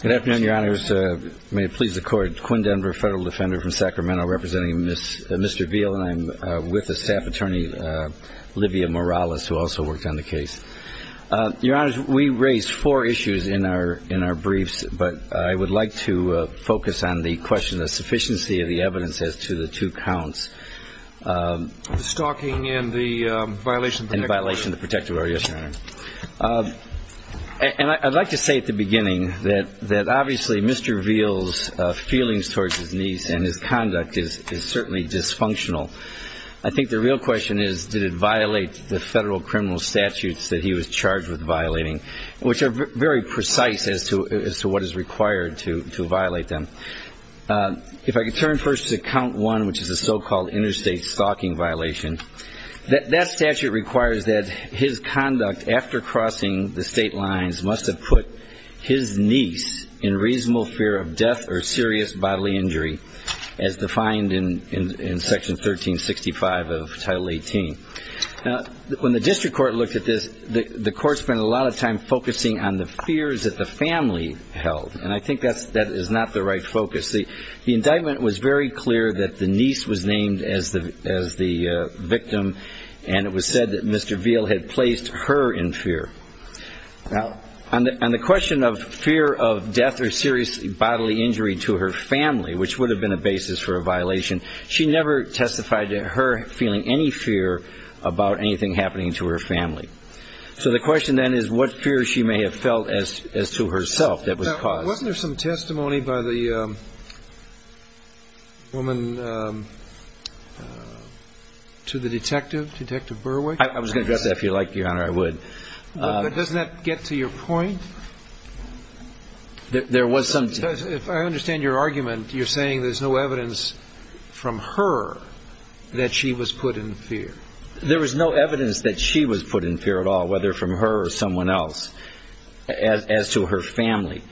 Good afternoon, your honors. May it please the court. Quinn Denver, federal defender from Sacramento, representing Mr. Veal, and I'm with the staff attorney, Livia Morales, who also worked on the case. Your honors, we raised four issues in our briefs, but I would like to focus on the question of sufficiency of the evidence as to the two counts. The stalking and the violation of the protective order. And I'd like to say at the beginning that obviously Mr. Veal's feelings towards his niece and his conduct is certainly dysfunctional. I think the real question is did it violate the federal criminal statutes that he was charged with violating, which are very precise as to what is required to violate them. If I could turn first to count one, which is the so-called interstate stalking violation. That statute requires that his conduct after crossing the state lines must have put his niece in reasonable fear of death or serious bodily injury as defined in section 1365 of title 18. When the district court looked at this, the court spent a lot of time focusing on the fears that the family held, and I think that is not the right focus. The indictment was very clear that the niece was named as the victim, and it was said that Mr. Veal had placed her in fear. Now, on the question of fear of death or serious bodily injury to her family, which would have been a basis for a violation, she never testified to her feeling any fear about anything happening to her family. So the question then is what fear she may have felt as to herself that was caused. Now, wasn't there some testimony by the woman to the detective, Detective Burwick? I was going to address that if you like, Your Honor, I would. But doesn't that get to your point? There was some. Because if I understand your argument, you're saying there's no evidence from her that she was put in fear. There was no evidence that she was put in fear at all, whether from her or someone else, as to her family.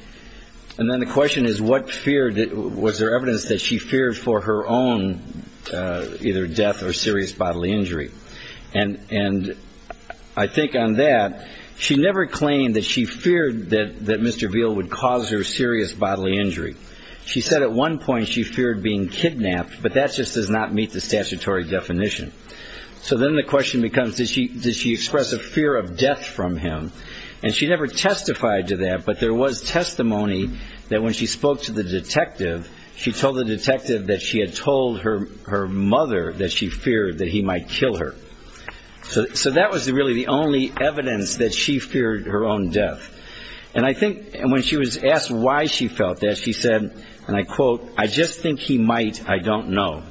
And then the question is what fear, was there evidence that she feared for her own either death or serious bodily injury. And I think on that, she never claimed that she feared that Mr. Veal would cause her serious bodily injury. She said at one point she feared being kidnapped, but that just does not meet the statutory definition. So then the question becomes, did she express a fear of death from him? And she never testified to that, but there was testimony that when she spoke to the detective, she told the detective that she had told her mother that she feared that he might kill her. So that was really the only evidence that she feared her own death. And I think when she was asked why she felt that, she said, and I quote, I just think he might, I don't know.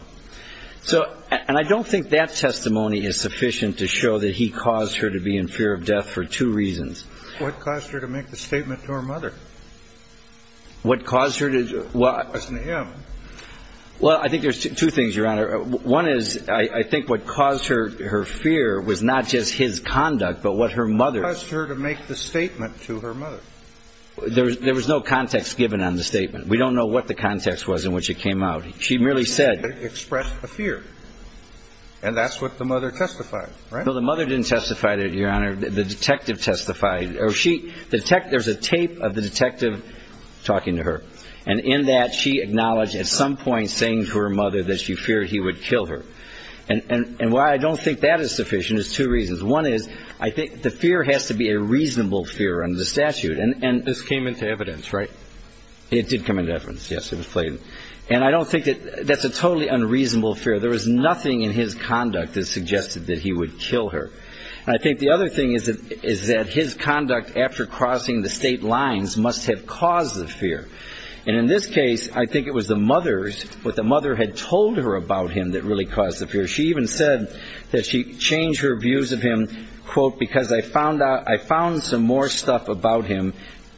And I don't think that testimony is sufficient to show that he caused her to be in fear of death for two reasons. What caused her to make the statement to her mother? What caused her to... It wasn't him. Well, I think there's two things, Your Honor. One is I think what caused her fear was not just his conduct, but what her mother... What caused her to make the statement to her mother? There was no context given on the statement. We don't know what the context was in which it came out. She merely said... It expressed a fear. And that's what the mother testified, right? No, the mother didn't testify to it, Your Honor. The detective testified. There's a tape of the detective talking to her. And in that, she acknowledged at some point saying to her mother that she feared he would kill her. And why I don't think that is sufficient is two reasons. One is I think the fear has to be a reasonable fear under the statute. And this came into evidence, right? It did come into evidence, yes. And I don't think that's a totally unreasonable fear. There was nothing in his conduct that suggested that he would kill her. And I think the other thing is that his conduct after crossing the state lines must have caused the fear. And in this case, I think it was the mother's, what the mother had told her about him that really caused the fear. She even said that she changed her views of him, quote, I found some more stuff about him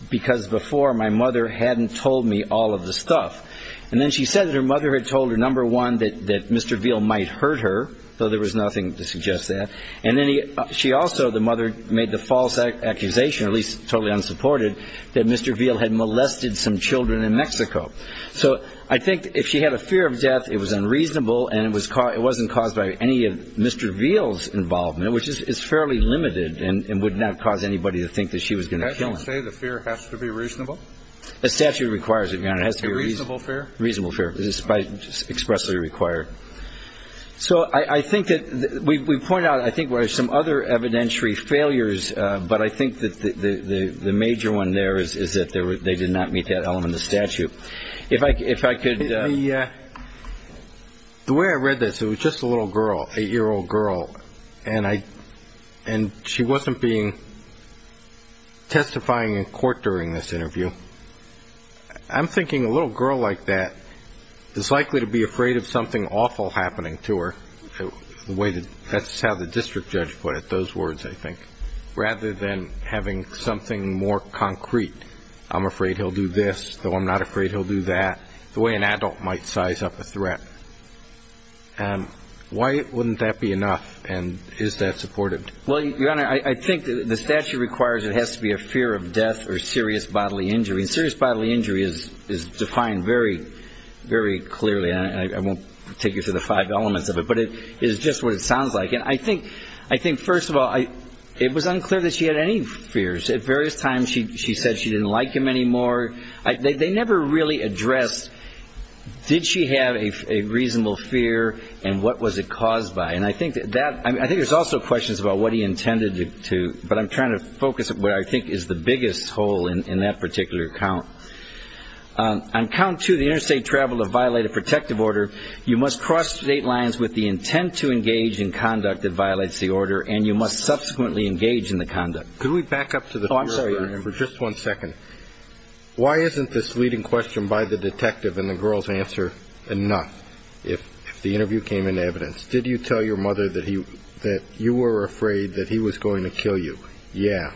because before my mother hadn't told me all of the stuff. And then she said that her mother had told her, number one, that Mr. Veal might hurt her, though there was nothing to suggest that. And then she also, the mother, made the false accusation, at least totally unsupported, that Mr. Veal had molested some children in Mexico. So I think if she had a fear of death, it was unreasonable, and it wasn't caused by any of Mr. Veal's involvement, which is fairly limited and would not cause anybody to think that she was going to kill him. That doesn't say the fear has to be reasonable? The statute requires it, Your Honor. It has to be a reasonable fear? A reasonable fear. It is expressly required. So I think that we point out, I think, where there's some other evidentiary failures, but I think that the major one there is that they did not meet that element of statute. The way I read this, it was just a little girl, an eight-year-old girl, and she wasn't being testifying in court during this interview. I'm thinking a little girl like that is likely to be afraid of something awful happening to her. That's how the district judge put it, those words, I think. Rather than having something more concrete, I'm afraid he'll do this, though I'm not afraid he'll do that, the way an adult might size up a threat. Why wouldn't that be enough, and is that supported? Well, Your Honor, I think the statute requires it has to be a fear of death or serious bodily injury, and serious bodily injury is defined very, very clearly, and I won't take you through the five elements of it, but it is just what it sounds like. And I think, first of all, it was unclear that she had any fears. At various times she said she didn't like him anymore. They never really addressed did she have a reasonable fear and what was it caused by, and I think there's also questions about what he intended to, but I'm trying to focus on what I think is the biggest hole in that particular count. On count two, the interstate travel to violate a protective order, you must cross state lines with the intent to engage in conduct that violates the order, and you must subsequently engage in the conduct. Could we back up for just one second? Why isn't this leading question by the detective in the girl's answer enough? If the interview came in evidence, did you tell your mother that you were afraid that he was going to kill you? Yeah.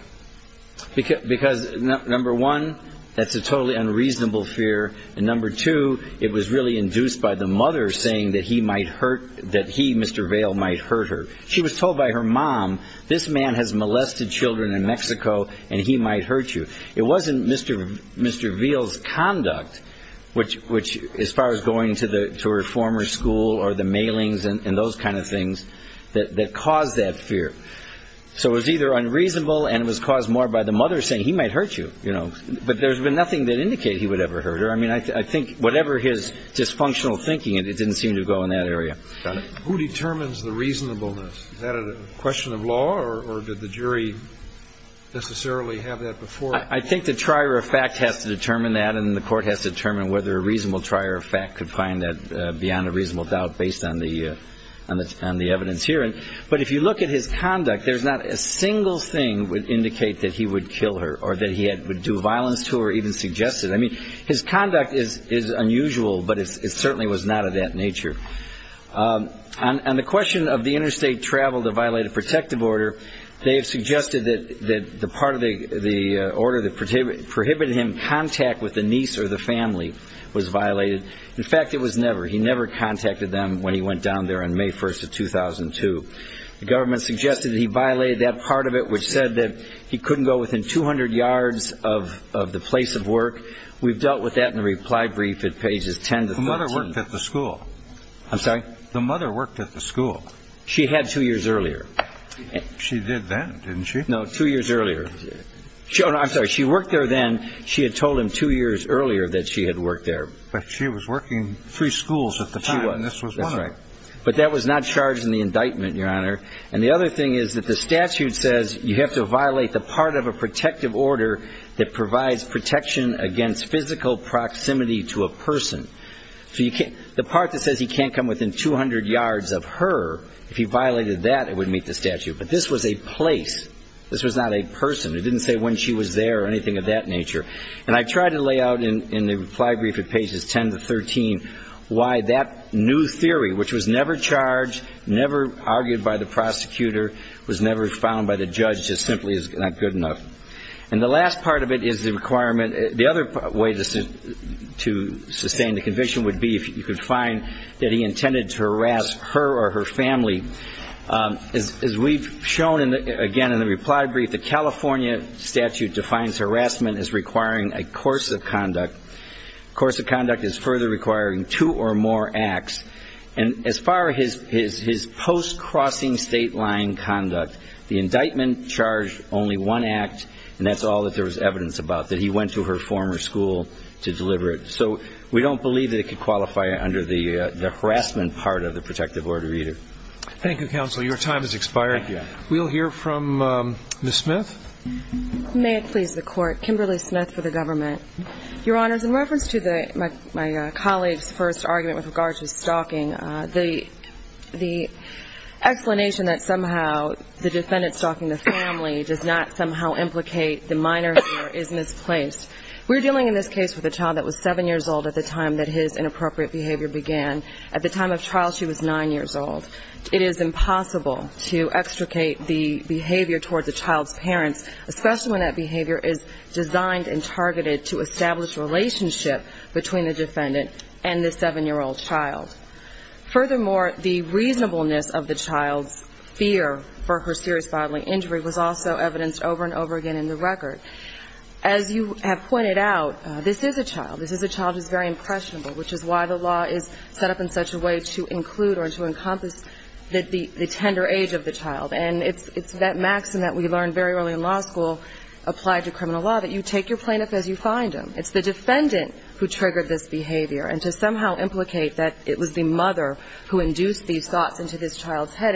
Because, number one, that's a totally unreasonable fear, and number two, it was really induced by the mother saying that he might hurt, that he, Mr. Vail, might hurt her. She was told by her mom, this man has molested children in Mexico and he might hurt you. It wasn't Mr. Vail's conduct, which as far as going to her former school or the mailings and those kind of things that caused that fear. So it was either unreasonable and it was caused more by the mother saying he might hurt you, you know, but there's been nothing that indicated he would ever hurt her. I mean, I think whatever his dysfunctional thinking, it didn't seem to go in that area. Who determines the reasonableness? Is that a question of law or did the jury necessarily have that before? I think the trier of fact has to determine that, and the court has to determine whether a reasonable trier of fact could find that beyond a reasonable doubt based on the evidence here. But if you look at his conduct, there's not a single thing that would indicate that he would kill her or that he would do violence to her or even suggest it. I mean, his conduct is unusual, but it certainly was not of that nature. On the question of the interstate travel that violated protective order, they have suggested that the part of the order that prohibited him contact with the niece or the family was violated. In fact, it was never. He never contacted them when he went down there on May 1st of 2002. The government suggested that he violated that part of it, which said that he couldn't go within 200 yards of the place of work. We've dealt with that in the reply brief at pages 10 to 13. He worked at the school. I'm sorry? The mother worked at the school. She had two years earlier. She did then, didn't she? No, two years earlier. I'm sorry. She worked there then. She had told him two years earlier that she had worked there. But she was working three schools at the time. She was. That's right. But that was not charged in the indictment, Your Honor. And the other thing is that the statute says you have to violate the part of a protective order that provides protection against physical proximity to a person. The part that says he can't come within 200 yards of her, if he violated that, it would meet the statute. But this was a place. This was not a person. It didn't say when she was there or anything of that nature. And I tried to lay out in the reply brief at pages 10 to 13 why that new theory, which was never charged, never argued by the prosecutor, was never found by the judge just simply as not good enough. And the last part of it is the requirement. The other way to sustain the conviction would be if you could find that he intended to harass her or her family. As we've shown, again, in the reply brief, the California statute defines harassment as requiring a course of conduct. A course of conduct is further requiring two or more acts. And as far as his post-crossing state line conduct, the indictment charged only one act, and that's all that there was evidence about, that he went to her former school to deliver it. So we don't believe that it could qualify under the harassment part of the protective order either. Thank you, Counselor. Your time has expired. We'll hear from Ms. Smith. May it please the Court. Kimberly Smith for the government. Your Honors, in reference to my colleague's first argument with regard to stalking, the explanation that somehow the defendant stalking the family does not somehow implicate the minor is misplaced. We're dealing in this case with a child that was 7 years old at the time that his inappropriate behavior began. At the time of trial, she was 9 years old. It is impossible to extricate the behavior towards a child's parents, especially when that behavior is designed and targeted to establish relationship between the defendant and the 7-year-old child. Furthermore, the reasonableness of the child's fear for her serious bodily injury was also evidenced over and over again in the record. As you have pointed out, this is a child. This is a child who is very impressionable, which is why the law is set up in such a way to include or to encompass the tender age of the child. And it's that maxim that we learned very early in law school applied to criminal law, that you take your plaintiff as you find him. It's the defendant who triggered this behavior. And to somehow implicate that it was the mother who induced these thoughts into this child's head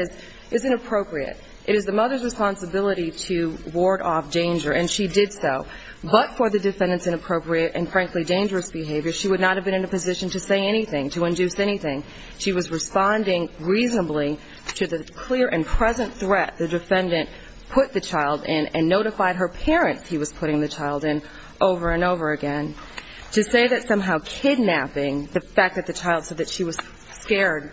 is inappropriate. It is the mother's responsibility to ward off danger, and she did so. But for the defendant's inappropriate and, frankly, dangerous behavior, she would not have been in a position to say anything, to induce anything. She was responding reasonably to the clear and present threat the defendant put the child in and notified her parents he was putting the child in over and over again. To say that somehow kidnapping, the fact that the child said that she was scared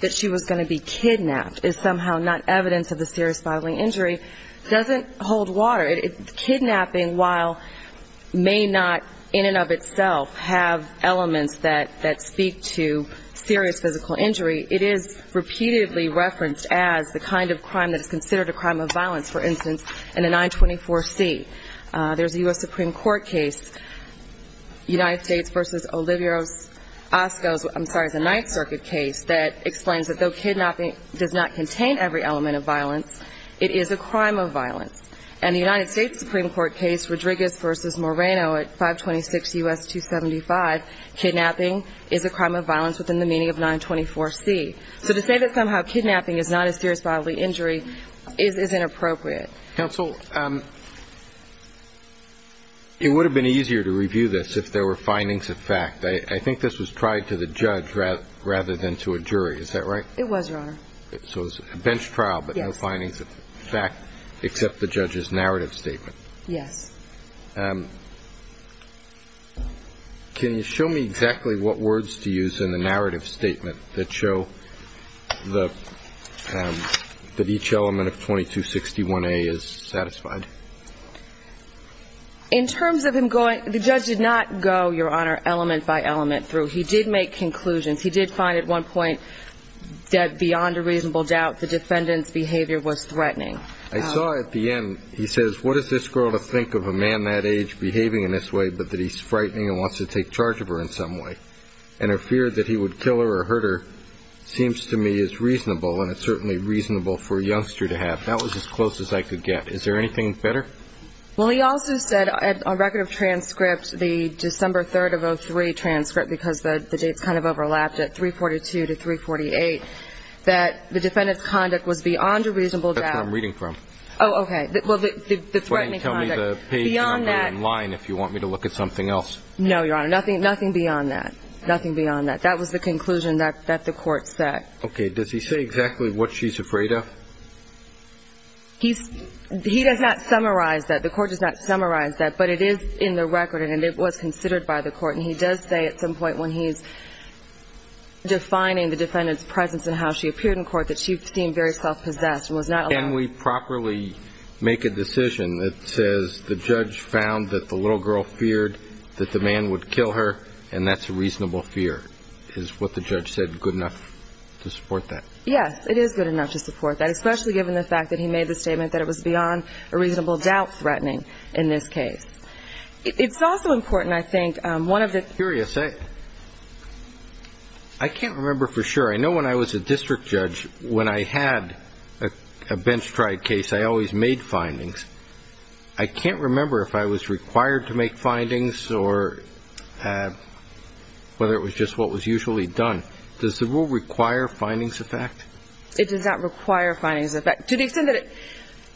that she was going to be kidnapped is somehow not evidence of the serious bodily injury doesn't hold water. Kidnapping, while may not in and of itself have elements that speak to serious physical injury, it is repeatedly referenced as the kind of crime that is considered a crime of violence. For instance, in the 924C, there's a U.S. Supreme Court case, United States v. Olivos-Oscos, I'm sorry, it's a Ninth Circuit case that explains that though kidnapping does not contain every element of violence, it is a crime of violence. And the United States Supreme Court case, Rodriguez v. Moreno at 526 U.S. 275, kidnapping is a crime of violence within the meaning of 924C. So to say that somehow kidnapping is not a serious bodily injury is inappropriate. Counsel, it would have been easier to review this if there were findings of fact. I think this was tried to the judge rather than to a jury. Is that right? It was, Your Honor. So it was a bench trial but no findings of fact except the judge's narrative statement. Yes. Can you show me exactly what words to use in the narrative statement that show that each element of 2261A is satisfied? In terms of him going, the judge did not go, Your Honor, element by element through. He did make conclusions. He did find at one point that beyond a reasonable doubt the defendant's behavior was threatening. I saw at the end, he says, what is this girl to think of a man that age behaving in this way but that he's frightening and wants to take charge of her in some way? And her fear that he would kill her or hurt her seems to me is reasonable, and it's certainly reasonable for a youngster to have. That was as close as I could get. Is there anything better? Well, he also said on record of transcript, the December 3rd of 2003 transcript, because the dates kind of overlapped at 342 to 348, that the defendant's conduct was beyond a reasonable doubt. That's what I'm reading from. Oh, okay. Well, the threatening conduct. Why don't you tell me the page and I'll go in line if you want me to look at something else. No, Your Honor. Nothing beyond that. Nothing beyond that. That was the conclusion that the court set. Okay. Does he say exactly what she's afraid of? He does not summarize that. The court does not summarize that. But it is in the record and it was considered by the court. And he does say at some point when he's defining the defendant's presence and how she appeared in court that she seemed very self-possessed and was not allowed. Can we properly make a decision that says the judge found that the little girl feared that the man would kill her and that's a reasonable fear? Is what the judge said good enough to support that? Yes, it is good enough to support that, especially given the fact that he made the statement that it was beyond a reasonable doubt threatening in this case. It's also important, I think, one of the Curious, I can't remember for sure. I know when I was a district judge, when I had a bench-tried case, I always made findings. I can't remember if I was required to make findings or whether it was just what was usually done. Does the rule require findings of fact? It does not require findings of fact. To the extent that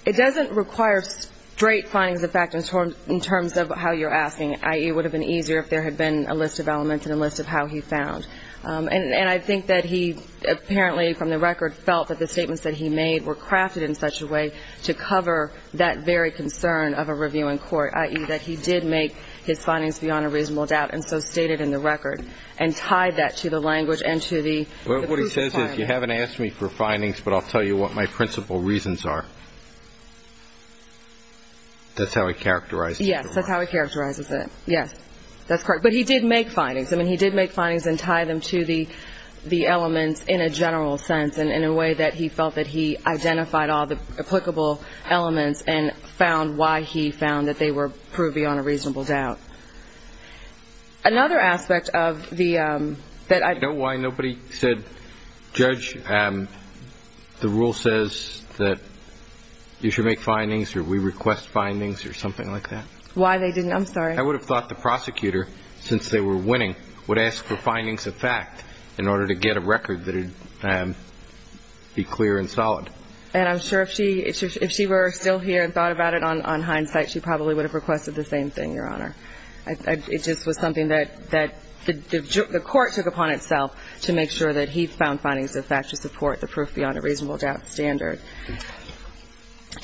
it doesn't require straight findings of fact in terms of how you're asking, i.e., it would have been easier if there had been a list of elements and a list of how he found. And I think that he apparently from the record felt that the statements that he made were crafted in such a way to cover that very concern of a review in court, i.e., that he did make his findings beyond a reasonable doubt and so stated in the record and tied that to the language and to the proof of finding. I don't have all the findings, but I'll tell you what my principal reasons are. That's how he characterized it. Yes, that's how he characterizes it. Yes, that's correct. But he did make findings. I mean, he did make findings and tie them to the elements in a general sense and in a way that he felt that he identified all the applicable elements and found why he found that they were proved beyond a reasonable doubt. Another aspect of the – Do you know why nobody said, Judge, the rule says that you should make findings or we request findings or something like that? Why they didn't? I'm sorry. I would have thought the prosecutor, since they were winning, would ask for findings of fact in order to get a record that would be clear and solid. And I'm sure if she were still here and thought about it on hindsight, she probably would have requested the same thing, Your Honor. It just was something that the court took upon itself to make sure that he found findings of fact to support the proof beyond a reasonable doubt standard.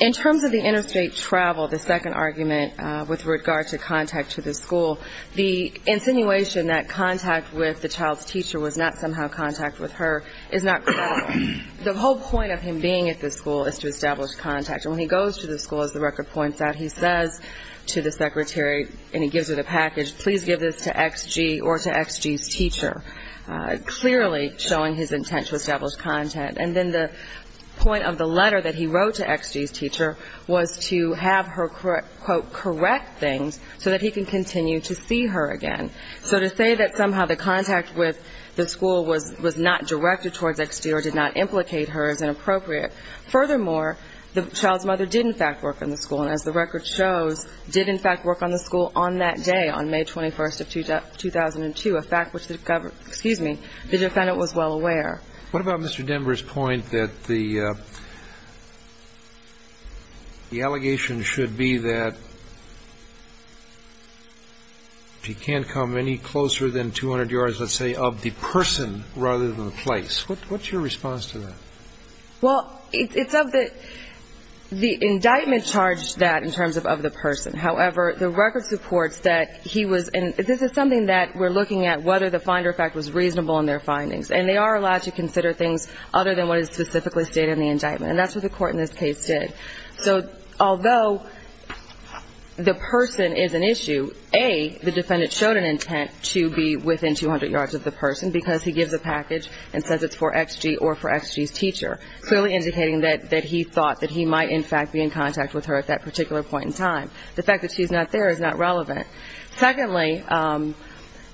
In terms of the interstate travel, the second argument with regard to contact to the school, the insinuation that contact with the child's teacher was not somehow contact with her is not credible. The whole point of him being at the school is to establish contact. And when he goes to the school, as the record points out, he says to the secretary and he gives her the package, please give this to XG or to XG's teacher, clearly showing his intent to establish contact. And then the point of the letter that he wrote to XG's teacher was to have her, quote, correct things so that he can continue to see her again. So to say that somehow the contact with the school was not directed towards XG or did not implicate her is inappropriate. Furthermore, the child's mother did, in fact, work on the school. And as the record shows, did, in fact, work on the school on that day, on May 21st of 2002, a fact which the defendant was well aware. What about Mr. Denver's point that the allegation should be that she can't come any closer than 200 yards, let's say, of the person rather than the place? What's your response to that? Well, it's of the indictment charged that in terms of the person. However, the record supports that he was, and this is something that we're looking at whether the finder fact was reasonable in their findings. And they are allowed to consider things other than what is specifically stated in the indictment. And that's what the court in this case did. So although the person is an issue, A, the defendant showed an intent to be within 200 yards of the person because he gives a package and says it's for XG or for XG's teacher, clearly indicating that he thought that he might, in fact, be in contact with her at that particular point in time. The fact that she's not there is not relevant. Secondly,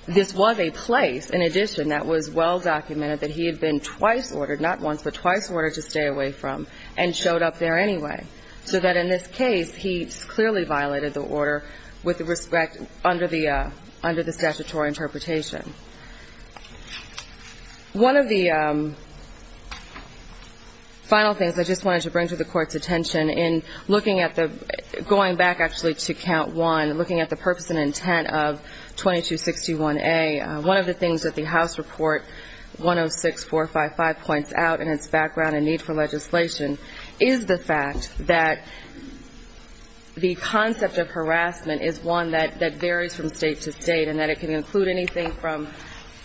this was a place, in addition, that was well documented that he had been twice ordered, not once, but twice ordered to stay away from and showed up there anyway. So that in this case, he clearly violated the order with respect under the statutory interpretation. One of the final things I just wanted to bring to the court's attention in looking at the, going back actually to count one, looking at the purpose and intent of 2261A, one of the things that the House Report 106455 points out in its background in the need for legislation is the fact that the concept of harassment is one that varies from state to state and that it can include anything from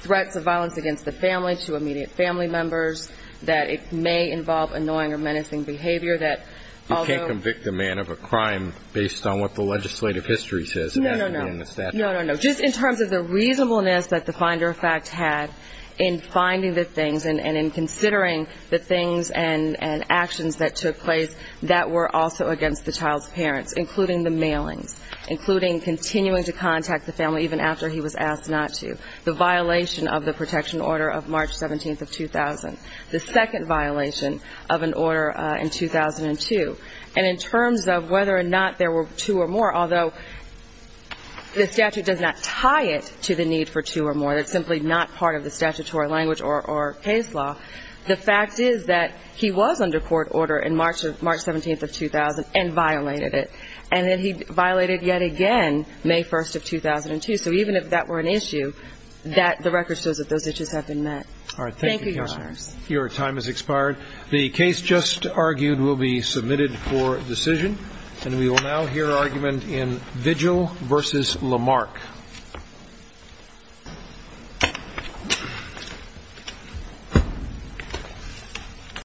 threats of violence against the family to immediate family members, that it may involve annoying or menacing behavior, that although... You can't convict a man of a crime based on what the legislative history says it has to be in the statute. No, no, no. Just in terms of the reasonableness that the finder of fact had in finding the things and in considering the things and actions that took place that were also against the child's parents, including the mailings, including continuing to contact the family even after he was asked not to, the violation of the protection order of March 17th of 2000, the second violation of an order in 2002. And in terms of whether or not there were two or more, although the statute does not tie it to the need for two or more, it's simply not part of the statutory language or case law, the fact is that he was under court order in March 17th of 2000 and violated it. And then he violated yet again May 1st of 2002. So even if that were an issue, the record shows that those issues have been met. Thank you, Your Honors. Your time has expired. The case just argued will be submitted for decision. And we will now hear argument in Vigil v. Lamarck.